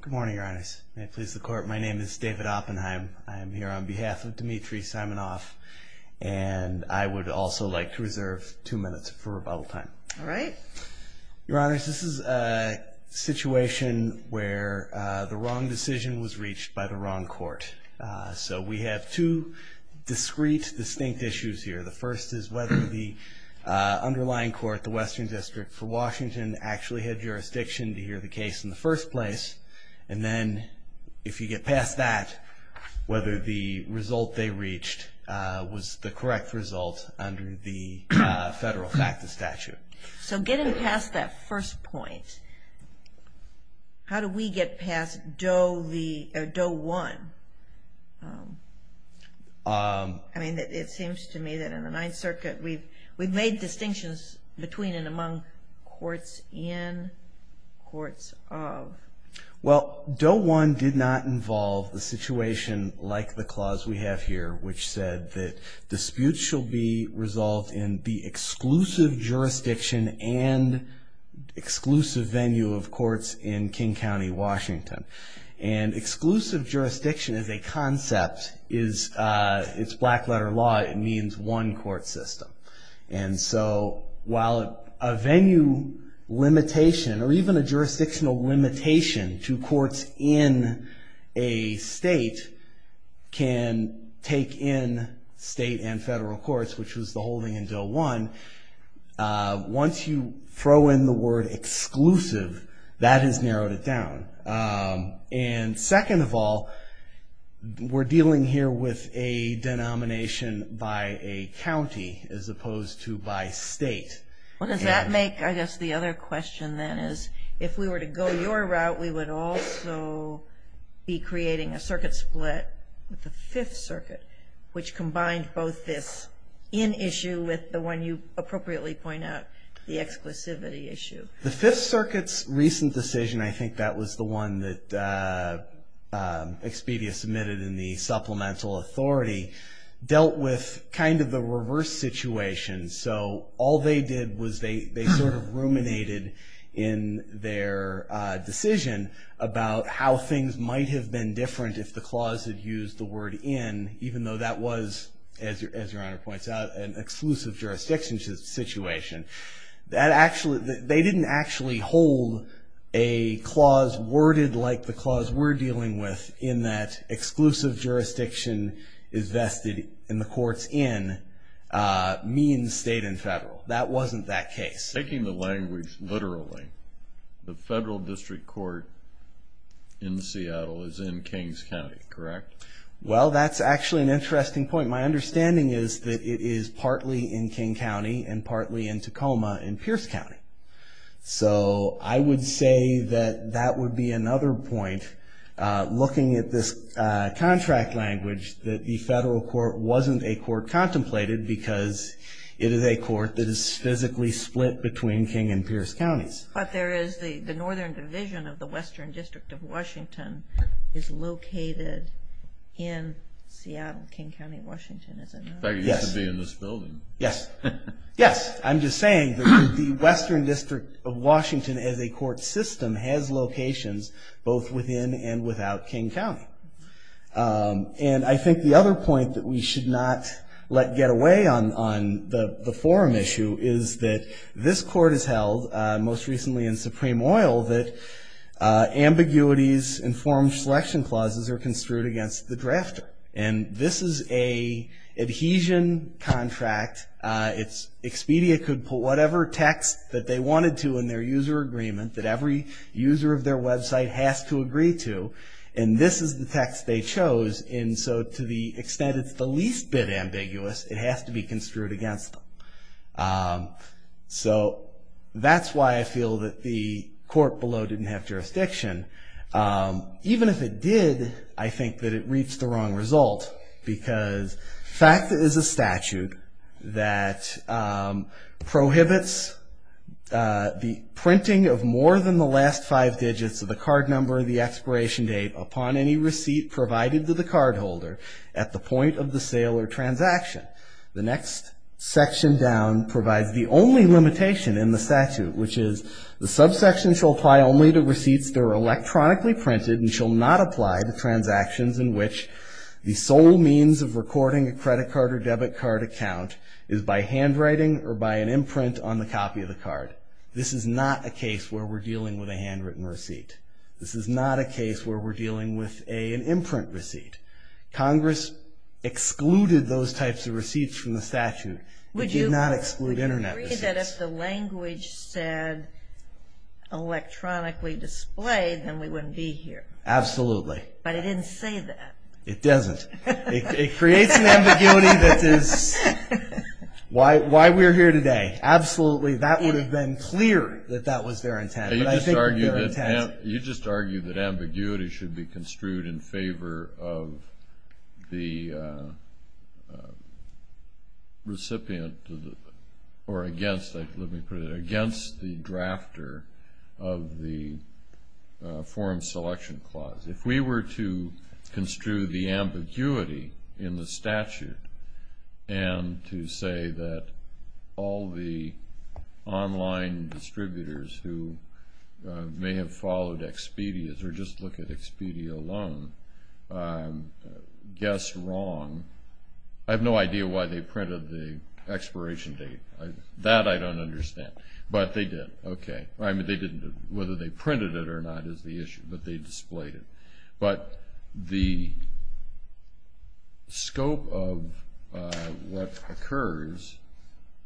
Good morning, Your Honors. May it please the Court, my name is David Oppenheim. I am here on behalf of Dmitriy Simonoff, and I would also like to reserve two minutes for rebuttal time. All right. Your Honors, this is a situation where the wrong decision was reached by the wrong Court. So we have two discrete, distinct issues here. The first is whether the underlying Court, the Western District for Washington, actually had jurisdiction to hear the case in the first place. And then if you get past that, whether the result they reached was the correct result under the Federal FACTA statute. So getting past that first point, how do we get past Doe 1? I mean, it seems to me that in the Ninth Circuit we've made distinctions between and among courts in, courts of. Well, Doe 1 did not involve the situation like the clause we have here, which said that disputes shall be resolved in the exclusive jurisdiction and exclusive venue of courts in King County, Washington. And exclusive jurisdiction is a concept, it's black letter law, it means one court system. And so while a venue limitation or even a jurisdictional limitation to courts in a state can take in state and federal courts, which was the holding in Doe 1, once you throw in the word exclusive, that has narrowed it down. And second of all, we're dealing here with a denomination by a county as opposed to by state. What does that make, I guess the other question then is, if we were to go your route, we would also be creating a circuit split with the Fifth Circuit, which combined both this in issue with the one you appropriately point out, the exclusivity issue. The Fifth Circuit's recent decision, I think that was the one that Expedia submitted in the supplemental authority, dealt with kind of the reverse situation. So all they did was they sort of ruminated in their decision about how things might have been different if the clause had used the word in, even though that was, as your Honor points out, an exclusive jurisdiction situation. They didn't actually hold a clause worded like the clause we're dealing with, in that exclusive jurisdiction is vested in the courts in means state and federal. That wasn't that case. Taking the language literally, the federal district court in Seattle is in Kings County, correct? Well, that's actually an interesting point. My understanding is that it is partly in King County and partly in Tacoma in Pierce County. So I would say that that would be another point, looking at this contract language, that the federal court wasn't a court contemplated because it is a court that is physically split between King and Pierce Counties. But there is the northern division of the western district of Washington is located in Seattle, King County, Washington, isn't it? Yes. It used to be in this building. Yes. Yes. I'm just saying that the western district of Washington, as a court system, has locations both within and without King County. And I think the other point that we should not let get away on the forum issue is that this court has held, most recently in Supreme Oil, that ambiguities in forum selection clauses are construed against the drafter. And this is an adhesion contract. Expedia could put whatever text that they wanted to in their user agreement that every user of their website has to agree to, and this is the text they chose. And so to the extent it's the least bit ambiguous, it has to be construed against them. So that's why I feel that the court below didn't have jurisdiction. Even if it did, I think that it reached the wrong result, because fact is a statute that prohibits the printing of more than the last five digits of the card number and the expiration date upon any receipt provided to the cardholder at the point of the sale or transaction. The next section down provides the only limitation in the statute, which is the subsection shall apply only to receipts that are electronically printed and shall not apply to transactions in which the sole means of recording a credit card or debit card account is by handwriting or by an imprint on the copy of the card. This is not a case where we're dealing with a handwritten receipt. This is not a case where we're dealing with an imprint receipt. Congress excluded those types of receipts from the statute. It did not exclude Internet receipts. Would you agree that if the language said electronically displayed, then we wouldn't be here? Absolutely. But it didn't say that. It doesn't. It creates an ambiguity that is why we're here today. Absolutely. That would have been clear that that was their intent. You just argued that ambiguity should be construed in favor of the recipient or against, let me put it, against the drafter of the form selection clause. If we were to construe the ambiguity in the statute and to say that all the online distributors who may have followed Expedia or just look at Expedia alone guessed wrong, I have no idea why they printed the expiration date. That I don't understand. But they did. Okay. Whether they printed it or not is the issue, but they displayed it. But the scope of what occurs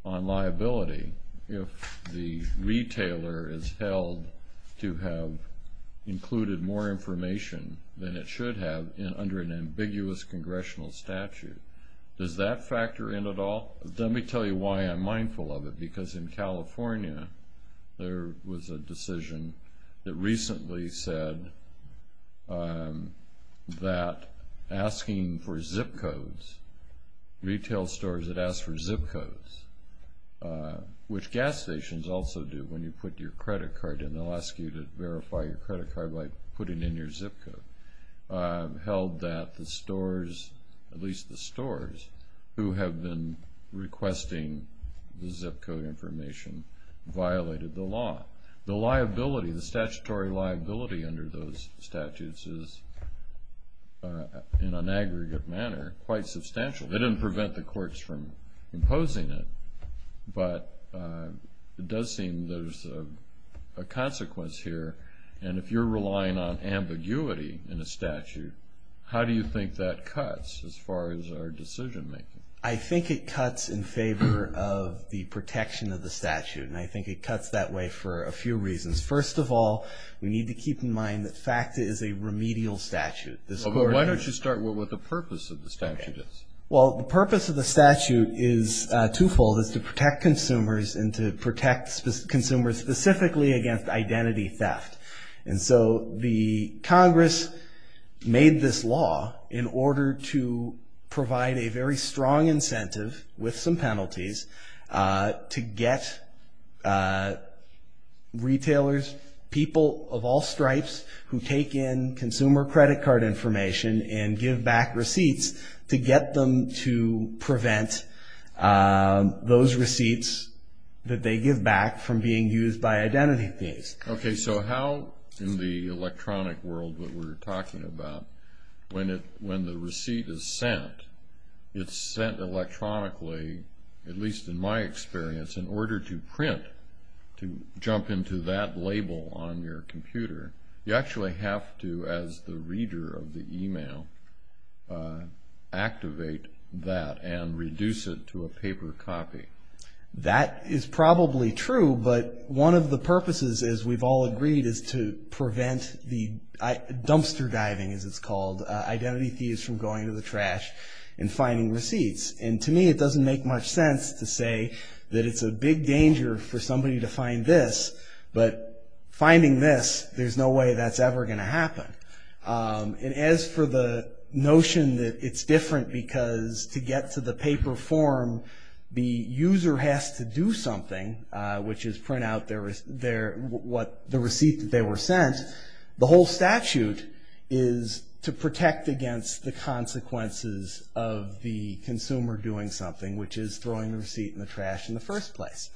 on liability if the retailer is held to have included more information than it should have under an ambiguous congressional statute, does that factor in at all? Well, let me tell you why I'm mindful of it. Because in California there was a decision that recently said that asking for zip codes, retail stores that ask for zip codes, which gas stations also do when you put your credit card in, they'll ask you to verify your credit card by putting in your zip code, held that the stores, at least the stores who have been requesting the zip code information, violated the law. The liability, the statutory liability under those statutes is, in an aggregate manner, quite substantial. They didn't prevent the courts from imposing it, but it does seem there's a consequence here. And if you're relying on ambiguity in a statute, how do you think that cuts as far as our decision making? I think it cuts in favor of the protection of the statute. And I think it cuts that way for a few reasons. First of all, we need to keep in mind that FACTA is a remedial statute. Why don't you start with what the purpose of the statute is? Well, the purpose of the statute is twofold. It's to protect consumers and to protect consumers specifically against identity theft. And so the Congress made this law in order to provide a very strong incentive with some penalties to get retailers, people of all stripes who take in consumer credit card information and give back receipts to get them to prevent those receipts that they give back from being used by identity thieves. Okay. So how in the electronic world that we're talking about, when the receipt is sent, it's sent electronically, at least in my experience, in order to print, to jump into that label on your computer, you actually have to, as the reader of the email, activate that and reduce it to a paper copy. That is probably true, but one of the purposes, as we've all agreed, is to prevent the dumpster diving, as it's called, identity thieves from going to the trash and finding receipts. And to me, it doesn't make much sense to say that it's a big danger for somebody to find this, but finding this, there's no way that's ever going to happen. And as for the notion that it's different because to get to the paper form, the user has to do something, which is print out the receipt that they were sent. The whole statute is to protect against the consequences of the consumer doing something, which is throwing the receipt in the trash in the first place.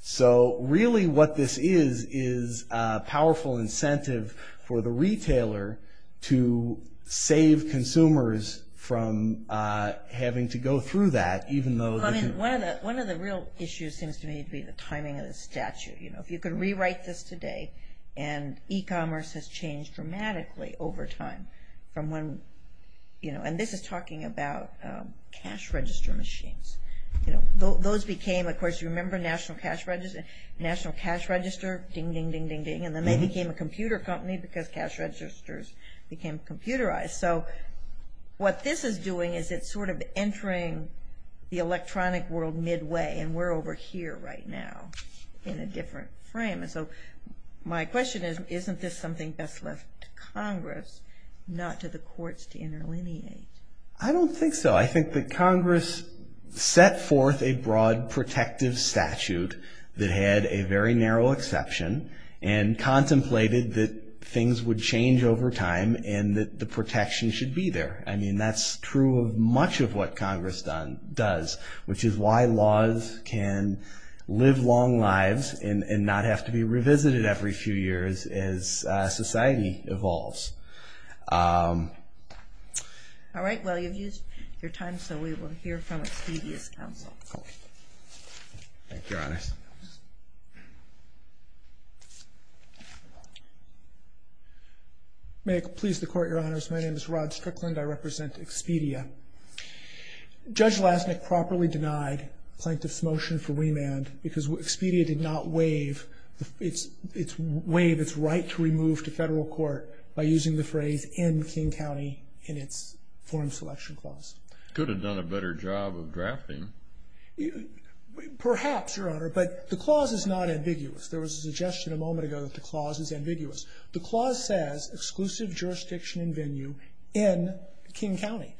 So really what this is, is a powerful incentive for the retailer to save consumers from having to go through that. One of the real issues seems to me to be the timing of the statute. If you could rewrite this today, and e-commerce has changed dramatically over time. And this is talking about cash register machines. Those became, of course, you remember national cash register? Ding, ding, ding, ding, ding. And then they became a computer company because cash registers became computerized. So what this is doing is it's sort of entering the electronic world midway, and we're over here right now in a different frame. So my question is, isn't this something best left to Congress, not to the courts to interlineate? I don't think so. I think that Congress set forth a broad protective statute that had a very narrow exception and contemplated that things would change over time and that the protection should be there. I mean, that's true of much of what Congress does, which is why laws can live long lives and not have to be revisited every few years as society evolves. All right. Well, you've used your time, so we will hear from Expedia's counsel. Thank you, Your Honor. May it please the Court, Your Honors. My name is Rod Strickland. I represent Expedia. Judge Lasnik properly denied Plaintiff's motion for remand because Expedia did not waive its right to remove to federal court by using the phrase in King County in its form selection clause. Could have done a better job of drafting. Perhaps, Your Honor, but the clause is not ambiguous. There was a suggestion a moment ago that the clause is ambiguous. The clause says exclusive jurisdiction and venue in King County.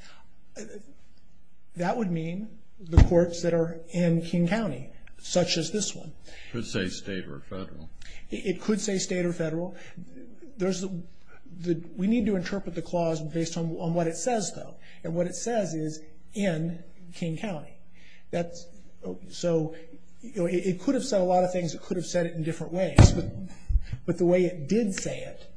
That would mean the courts that are in King County, such as this one. It could say state or federal. We need to interpret the clause based on what it says, though, and what it says is in King County. So it could have said a lot of things. It could have said it in different ways, but the way it did say it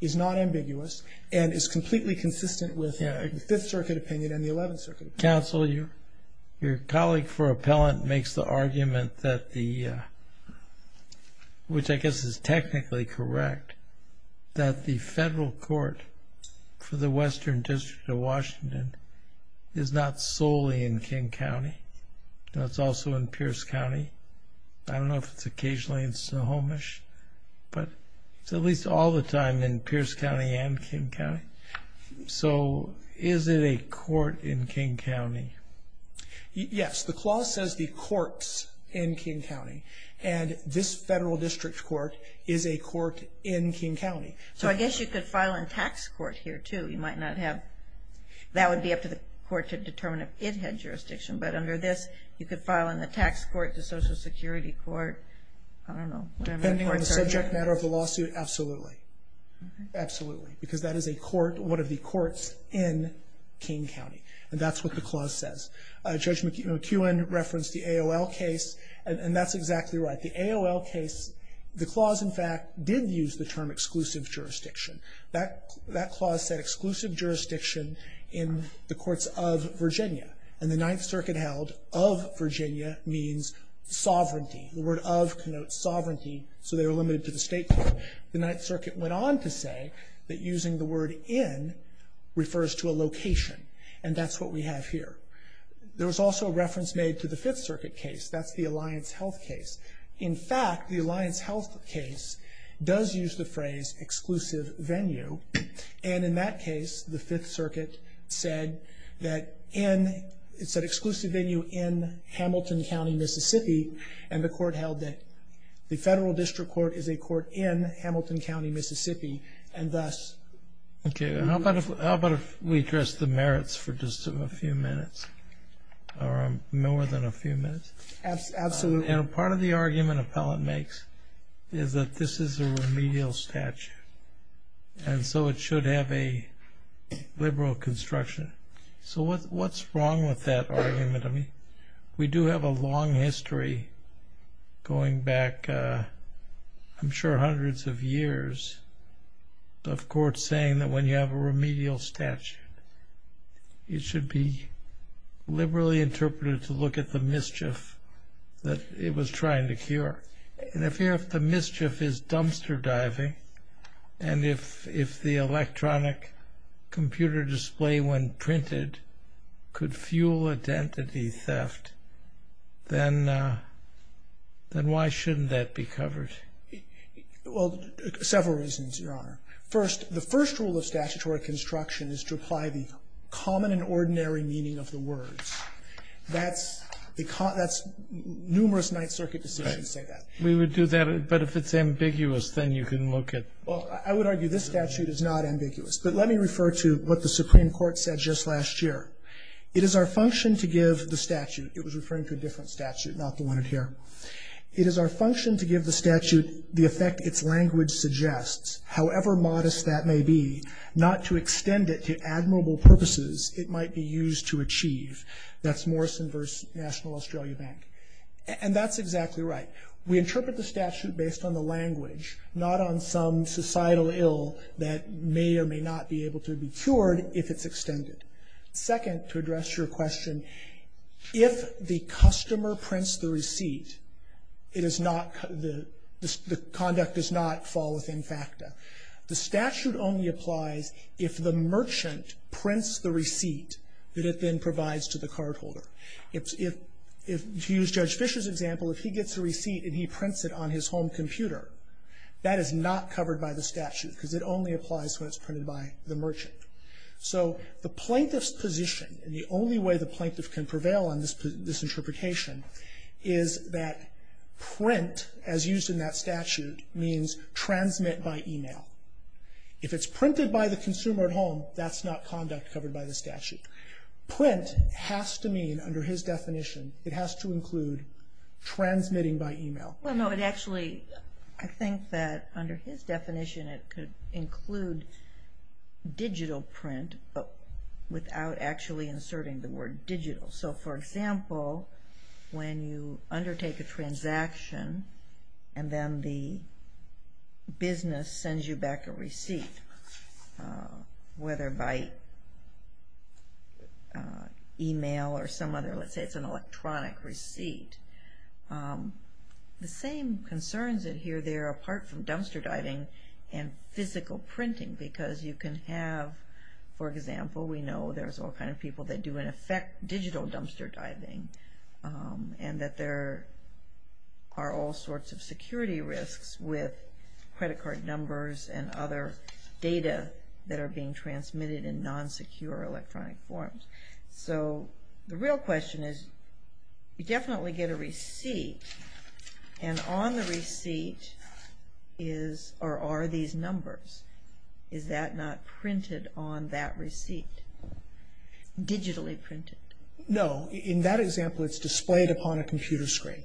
is not ambiguous and is completely consistent with the Fifth Circuit opinion and the Eleventh Circuit opinion. Mr. Counsel, your colleague for appellant makes the argument, which I guess is technically correct, that the federal court for the Western District of Washington is not solely in King County. It's also in Pierce County. I don't know if it's occasionally in Snohomish, but it's at least all the time in Pierce County and King County. So is it a court in King County? Yes, the clause says the courts in King County, and this federal district court is a court in King County. So I guess you could file in tax court here, too. That would be up to the court to determine if it had jurisdiction, but under this you could file in the tax court, the Social Security court, I don't know. Depending on the subject matter of the lawsuit, absolutely. Absolutely, because that is a court, one of the courts in King County, and that's what the clause says. Judge McEwen referenced the AOL case, and that's exactly right. The AOL case, the clause, in fact, did use the term exclusive jurisdiction. That clause said exclusive jurisdiction in the courts of Virginia, and the Ninth Circuit held of Virginia means sovereignty. The word of connotes sovereignty, so they were limited to the state court. So the Ninth Circuit went on to say that using the word in refers to a location, and that's what we have here. There was also a reference made to the Fifth Circuit case. That's the Alliance Health case. In fact, the Alliance Health case does use the phrase exclusive venue, and in that case the Fifth Circuit said that it's an exclusive venue in Hamilton County, Mississippi, and the court held that the federal district court is a court in Hamilton County, Mississippi, and thus. Okay. How about if we address the merits for just a few minutes, or more than a few minutes? Absolutely. Part of the argument an appellant makes is that this is a remedial statute, and so it should have a liberal construction. So what's wrong with that argument? We do have a long history going back I'm sure hundreds of years of courts saying that when you have a remedial statute, it should be liberally interpreted to look at the mischief that it was trying to cure. And if the mischief is dumpster diving, and if the electronic computer display when printed could fuel identity theft, then why shouldn't that be covered? Well, several reasons, Your Honor. First, the first rule of statutory construction is to apply the common and ordinary meaning of the words. That's numerous Ninth Circuit decisions say that. We would do that, but if it's ambiguous, then you can look at. Well, I would argue this statute is not ambiguous, but let me refer to what the Supreme Court said just last year. It is our function to give the statute. It was referring to a different statute, not the one in here. It is our function to give the statute the effect its language suggests, however modest that may be, not to extend it to admirable purposes it might be used to achieve. That's Morrison v. National Australia Bank. And that's exactly right. We interpret the statute based on the language, not on some societal ill that may or may not be able to be cured if it's extended. Second, to address your question, if the customer prints the receipt, it is not the conduct does not fall within FACTA. The statute only applies if the merchant prints the receipt that it then provides to the cardholder. If you use Judge Fischer's example, if he gets a receipt and he prints it on his home computer, that is not covered by the statute because it only applies when it's printed by the merchant. So the plaintiff's position, and the only way the plaintiff can prevail on this interpretation, is that print, as used in that statute, means transmit by email. If it's printed by the consumer at home, that's not conduct covered by the statute. Print has to mean, under his definition, it has to include transmitting by email. Well, no, it actually, I think that under his definition it could include digital print without actually inserting the word digital. So, for example, when you undertake a transaction and then the business sends you back a receipt, whether by email or some other, let's say it's an electronic receipt, the same concerns adhere there apart from dumpster diving and physical printing because you can have, for example, we know there's all kinds of people that do, in effect, digital dumpster diving, and that there are all sorts of security risks with credit card numbers and other data that are being transmitted in non-secure electronic forms. So the real question is, you definitely get a receipt, and on the receipt are these numbers. Is that not printed on that receipt? Digitally printed? No. In that example, it's displayed upon a computer screen.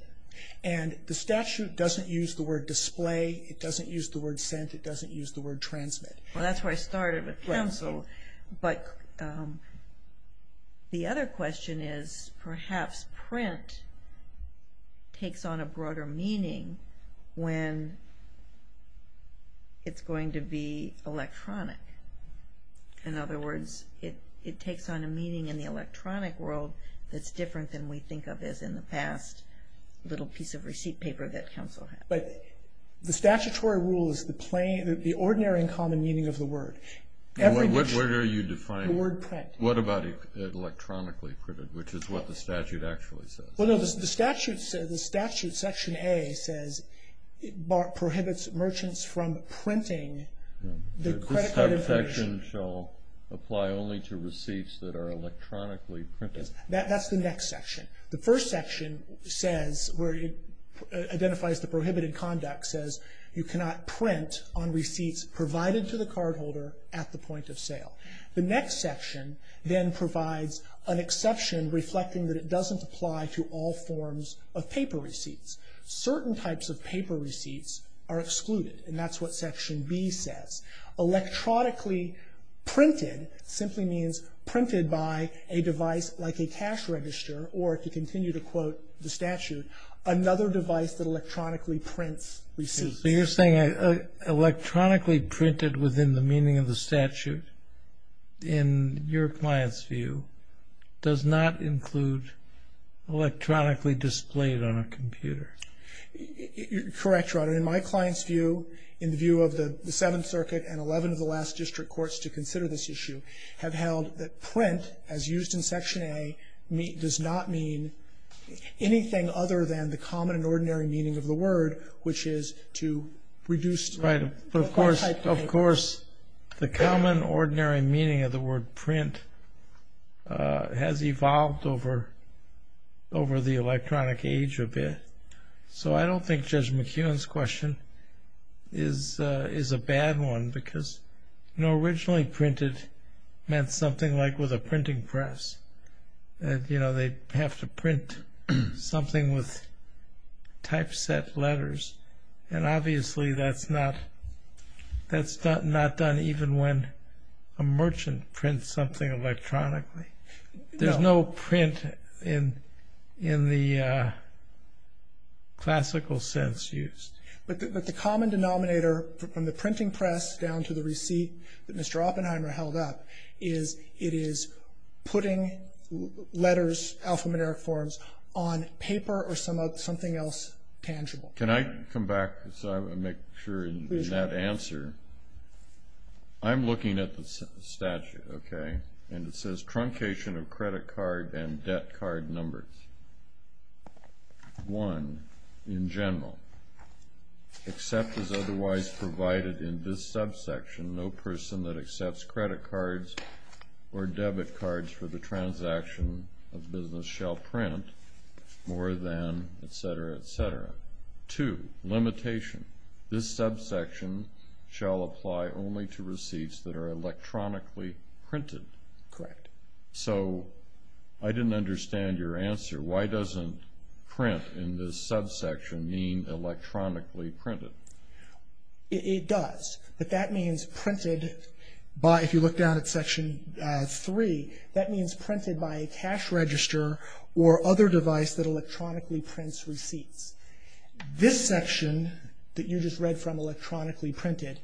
And the statute doesn't use the word display. It doesn't use the word sent. It doesn't use the word transmit. Well, that's where I started with cancel. But the other question is, perhaps print takes on a broader meaning when it's going to be electronic. In other words, it takes on a meaning in the electronic world that's different than we think of as in the past little piece of receipt paper that counsel had. But the statutory rule is the ordinary and common meaning of the word. Where do you define it? The word print. What about electronically printed, which is what the statute actually says? Well, no, the statute, Section A, prohibits merchants from printing the credit card information. This type of section shall apply only to receipts that are electronically printed. That's the next section. The first section identifies the prohibited conduct, says you cannot print on receipts provided to the cardholder at the point of sale. The next section then provides an exception reflecting that it doesn't apply to all forms of paper receipts. Certain types of paper receipts are excluded. And that's what Section B says. Electronically printed simply means printed by a device like a cash register, or to continue to quote the statute, another device that electronically prints receipts. So you're saying electronically printed within the meaning of the statute, in your client's view, does not include electronically displayed on a computer? Correct, Your Honor. In my client's view, in the view of the Seventh Circuit and 11 of the last district courts to consider this issue have held that print, as used in Section A, does not mean anything other than the common and ordinary meaning of the word, which is to reduce the type of paper. Right. But, of course, the common ordinary meaning of the word print has evolved over the electronic age a bit. So I don't think Judge McKeown's question is a bad one because, you know, originally printed meant something like with a printing press. You know, they have to print something with typeset letters, and obviously that's not done even when a merchant prints something electronically. There's no print in the classical sense used. But the common denominator from the printing press down to the receipt that Mr. Oppenheimer held up is it is putting letters, alphanumeric forms, on paper or something else tangible. Can I come back and make sure in that answer? I'm looking at the statute, okay? And it says truncation of credit card and debt card numbers. One, in general, except as otherwise provided in this subsection, no person that accepts credit cards or debit cards for the transaction of business shall print more than, et cetera, et cetera. Number two, limitation. This subsection shall apply only to receipts that are electronically printed. Correct. So I didn't understand your answer. Why doesn't print in this subsection mean electronically printed? It does, but that means printed by, if you look down at Section 3, that means printed by a cash register or other device that electronically prints receipts. This section that you just read from, electronically printed,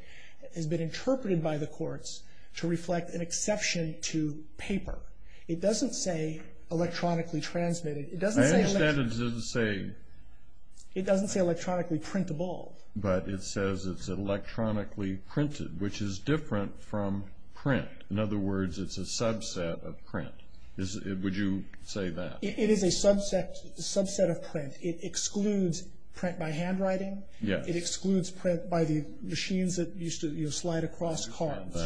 has been interpreted by the courts to reflect an exception to paper. It doesn't say electronically transmitted. It doesn't say electronically. I understand it doesn't say. It doesn't say electronically printable. But it says it's electronically printed, which is different from print. In other words, it's a subset of print. Would you say that? It is a subset of print. It excludes print by handwriting. Yes. It excludes print by the machines that used to slide across cards.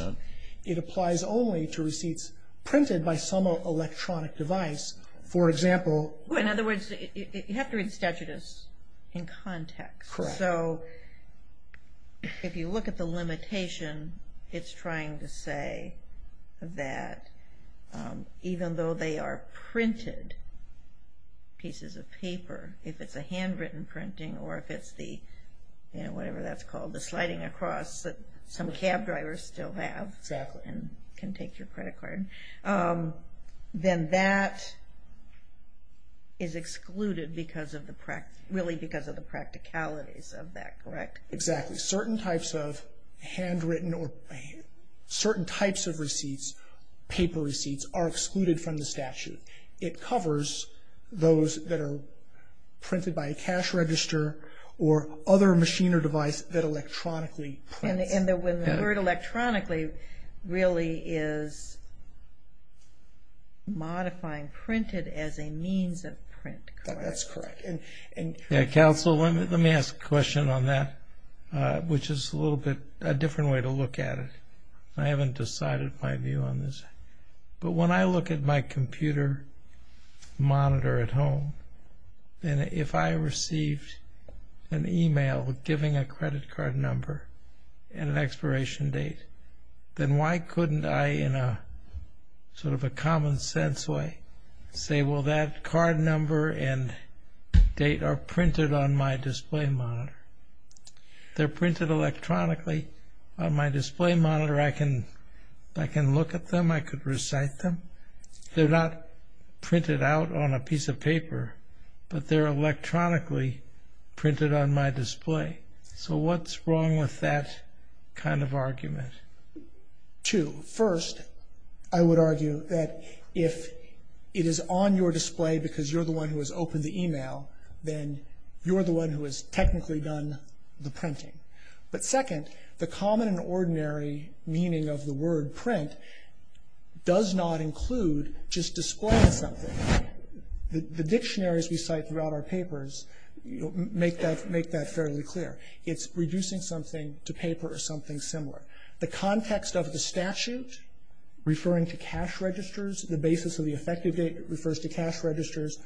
It applies only to receipts printed by some electronic device. For example. In other words, you have to read statutes in context. Correct. So if you look at the limitation, it's trying to say that even though they are printed pieces of paper, if it's a handwritten printing or if it's the, you know, whatever that's called, the sliding across that some cab drivers still have and can take your credit card, then that is excluded because of the, really because of the practicalities of that. Correct? Exactly. Certain types of handwritten or certain types of receipts, paper receipts, are excluded from the statute. It covers those that are printed by a cash register or other machine or device that electronically prints. And the word electronically really is modifying printed as a means of print, correct? That's correct. Counsel, let me ask a question on that, which is a little bit, a different way to look at it. I haven't decided my view on this. But when I look at my computer monitor at home, and if I received an email giving a credit card number and an expiration date, then why couldn't I in a sort of a common sense way say, well, that card number and date are printed on my display monitor. They're printed electronically on my display monitor. I can look at them. I could recite them. They're not printed out on a piece of paper, but they're electronically printed on my display. So what's wrong with that kind of argument? Two. First, I would argue that if it is on your display because you're the one who has opened the email, then you're the one who has technically done the printing. But second, the common and ordinary meaning of the word print does not include just displaying something. The dictionaries we cite throughout our papers make that fairly clear. It's reducing something to paper or something similar. The context of the statute referring to cash registers, the basis of the effective date refers to cash registers,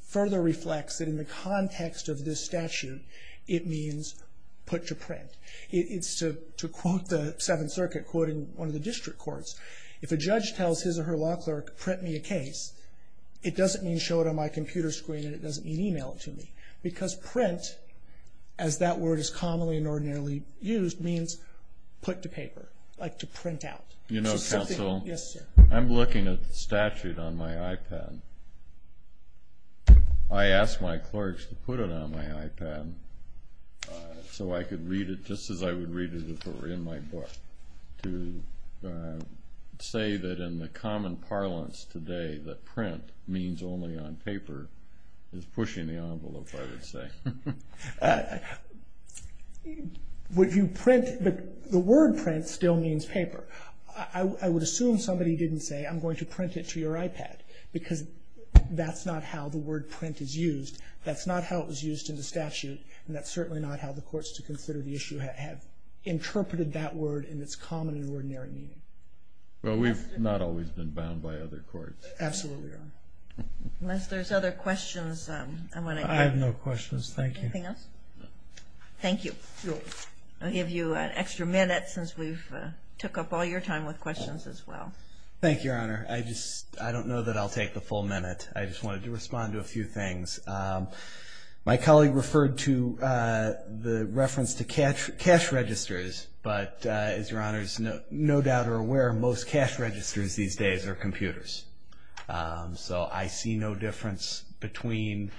further reflects that in the context of this statute, it means put to print. It's to quote the Seventh Circuit quoting one of the district courts. If a judge tells his or her law clerk, print me a case, it doesn't mean show it on my computer screen and it doesn't mean email it to me. Because print, as that word is commonly and ordinarily used, means put to paper, like to print out. You know, counsel, I'm looking at the statute on my iPad. I asked my clerks to put it on my iPad so I could read it just as I would read it if it were in my book. To say that in the common parlance today that print means only on paper is pushing the envelope, I would say. The word print still means paper. I would assume somebody didn't say I'm going to print it to your iPad because that's not how the word print is used. That's not how it was used in the statute and that's certainly not how the courts to consider the issue have interpreted that word in its common and ordinary meaning. Well, we've not always been bound by other courts. Absolutely. Unless there's other questions. I have no questions, thank you. Anything else? No. Thank you. I'll give you an extra minute since we've took up all your time with questions as well. Thank you, Your Honor. I don't know that I'll take the full minute. I just wanted to respond to a few things. My colleague referred to the reference to cash registers, but as Your Honor is no doubt aware, most cash registers these days are computers. So I see no difference between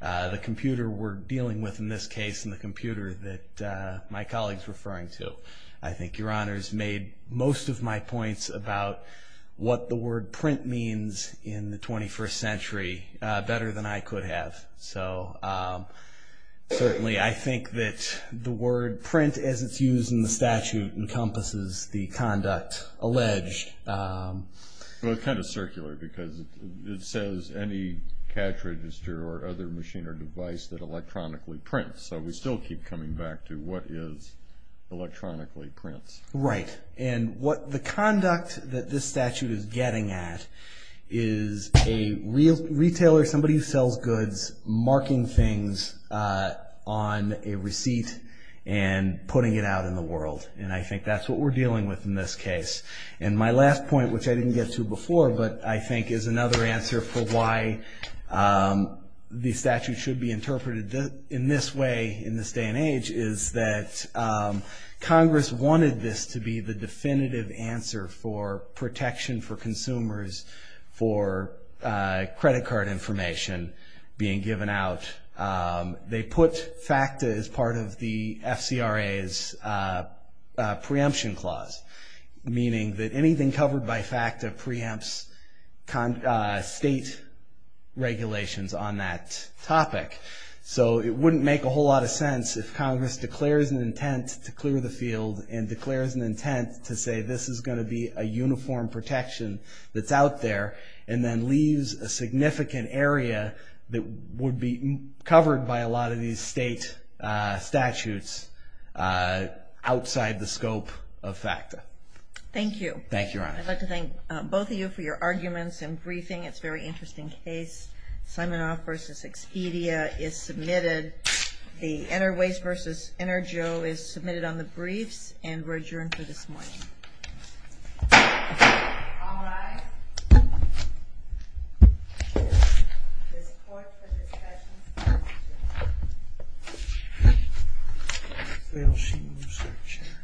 the computer we're dealing with in this case and the computer that my colleague's referring to. I think Your Honor's made most of my points about what the word print means in the 21st century better than I could have. So certainly I think that the word print as it's used in the statute encompasses the conduct alleged. Well, it's kind of circular because it says any cash register or other machine or device that electronically prints. So we still keep coming back to what is electronically prints. Right. And what the conduct that this statute is getting at is a retailer, somebody who sells goods, marking things on a receipt and putting it out in the world. And I think that's what we're dealing with in this case. And my last point, which I didn't get to before, but I think is another answer for why the statute should be interpreted in this way in this day and age, is that Congress wanted this to be the definitive answer for protection for consumers for credit card information being given out. They put FACTA as part of the FCRA's preemption clause, meaning that anything covered by FACTA preempts state regulations on that topic. So it wouldn't make a whole lot of sense if Congress declares an intent to clear the field and declares an intent to say this is going to be a uniform protection that's out there and then leaves a significant area that would be covered by a lot of these state statutes outside the scope of FACTA. Thank you. Thank you, Your Honor. I'd like to thank both of you for your arguments and briefing. It's a very interesting case. Simonoff v. Expedia is submitted. The Enerways v. Energeo is submitted on the briefs and we're adjourned for this morning. All rise. This court for discussion is adjourned.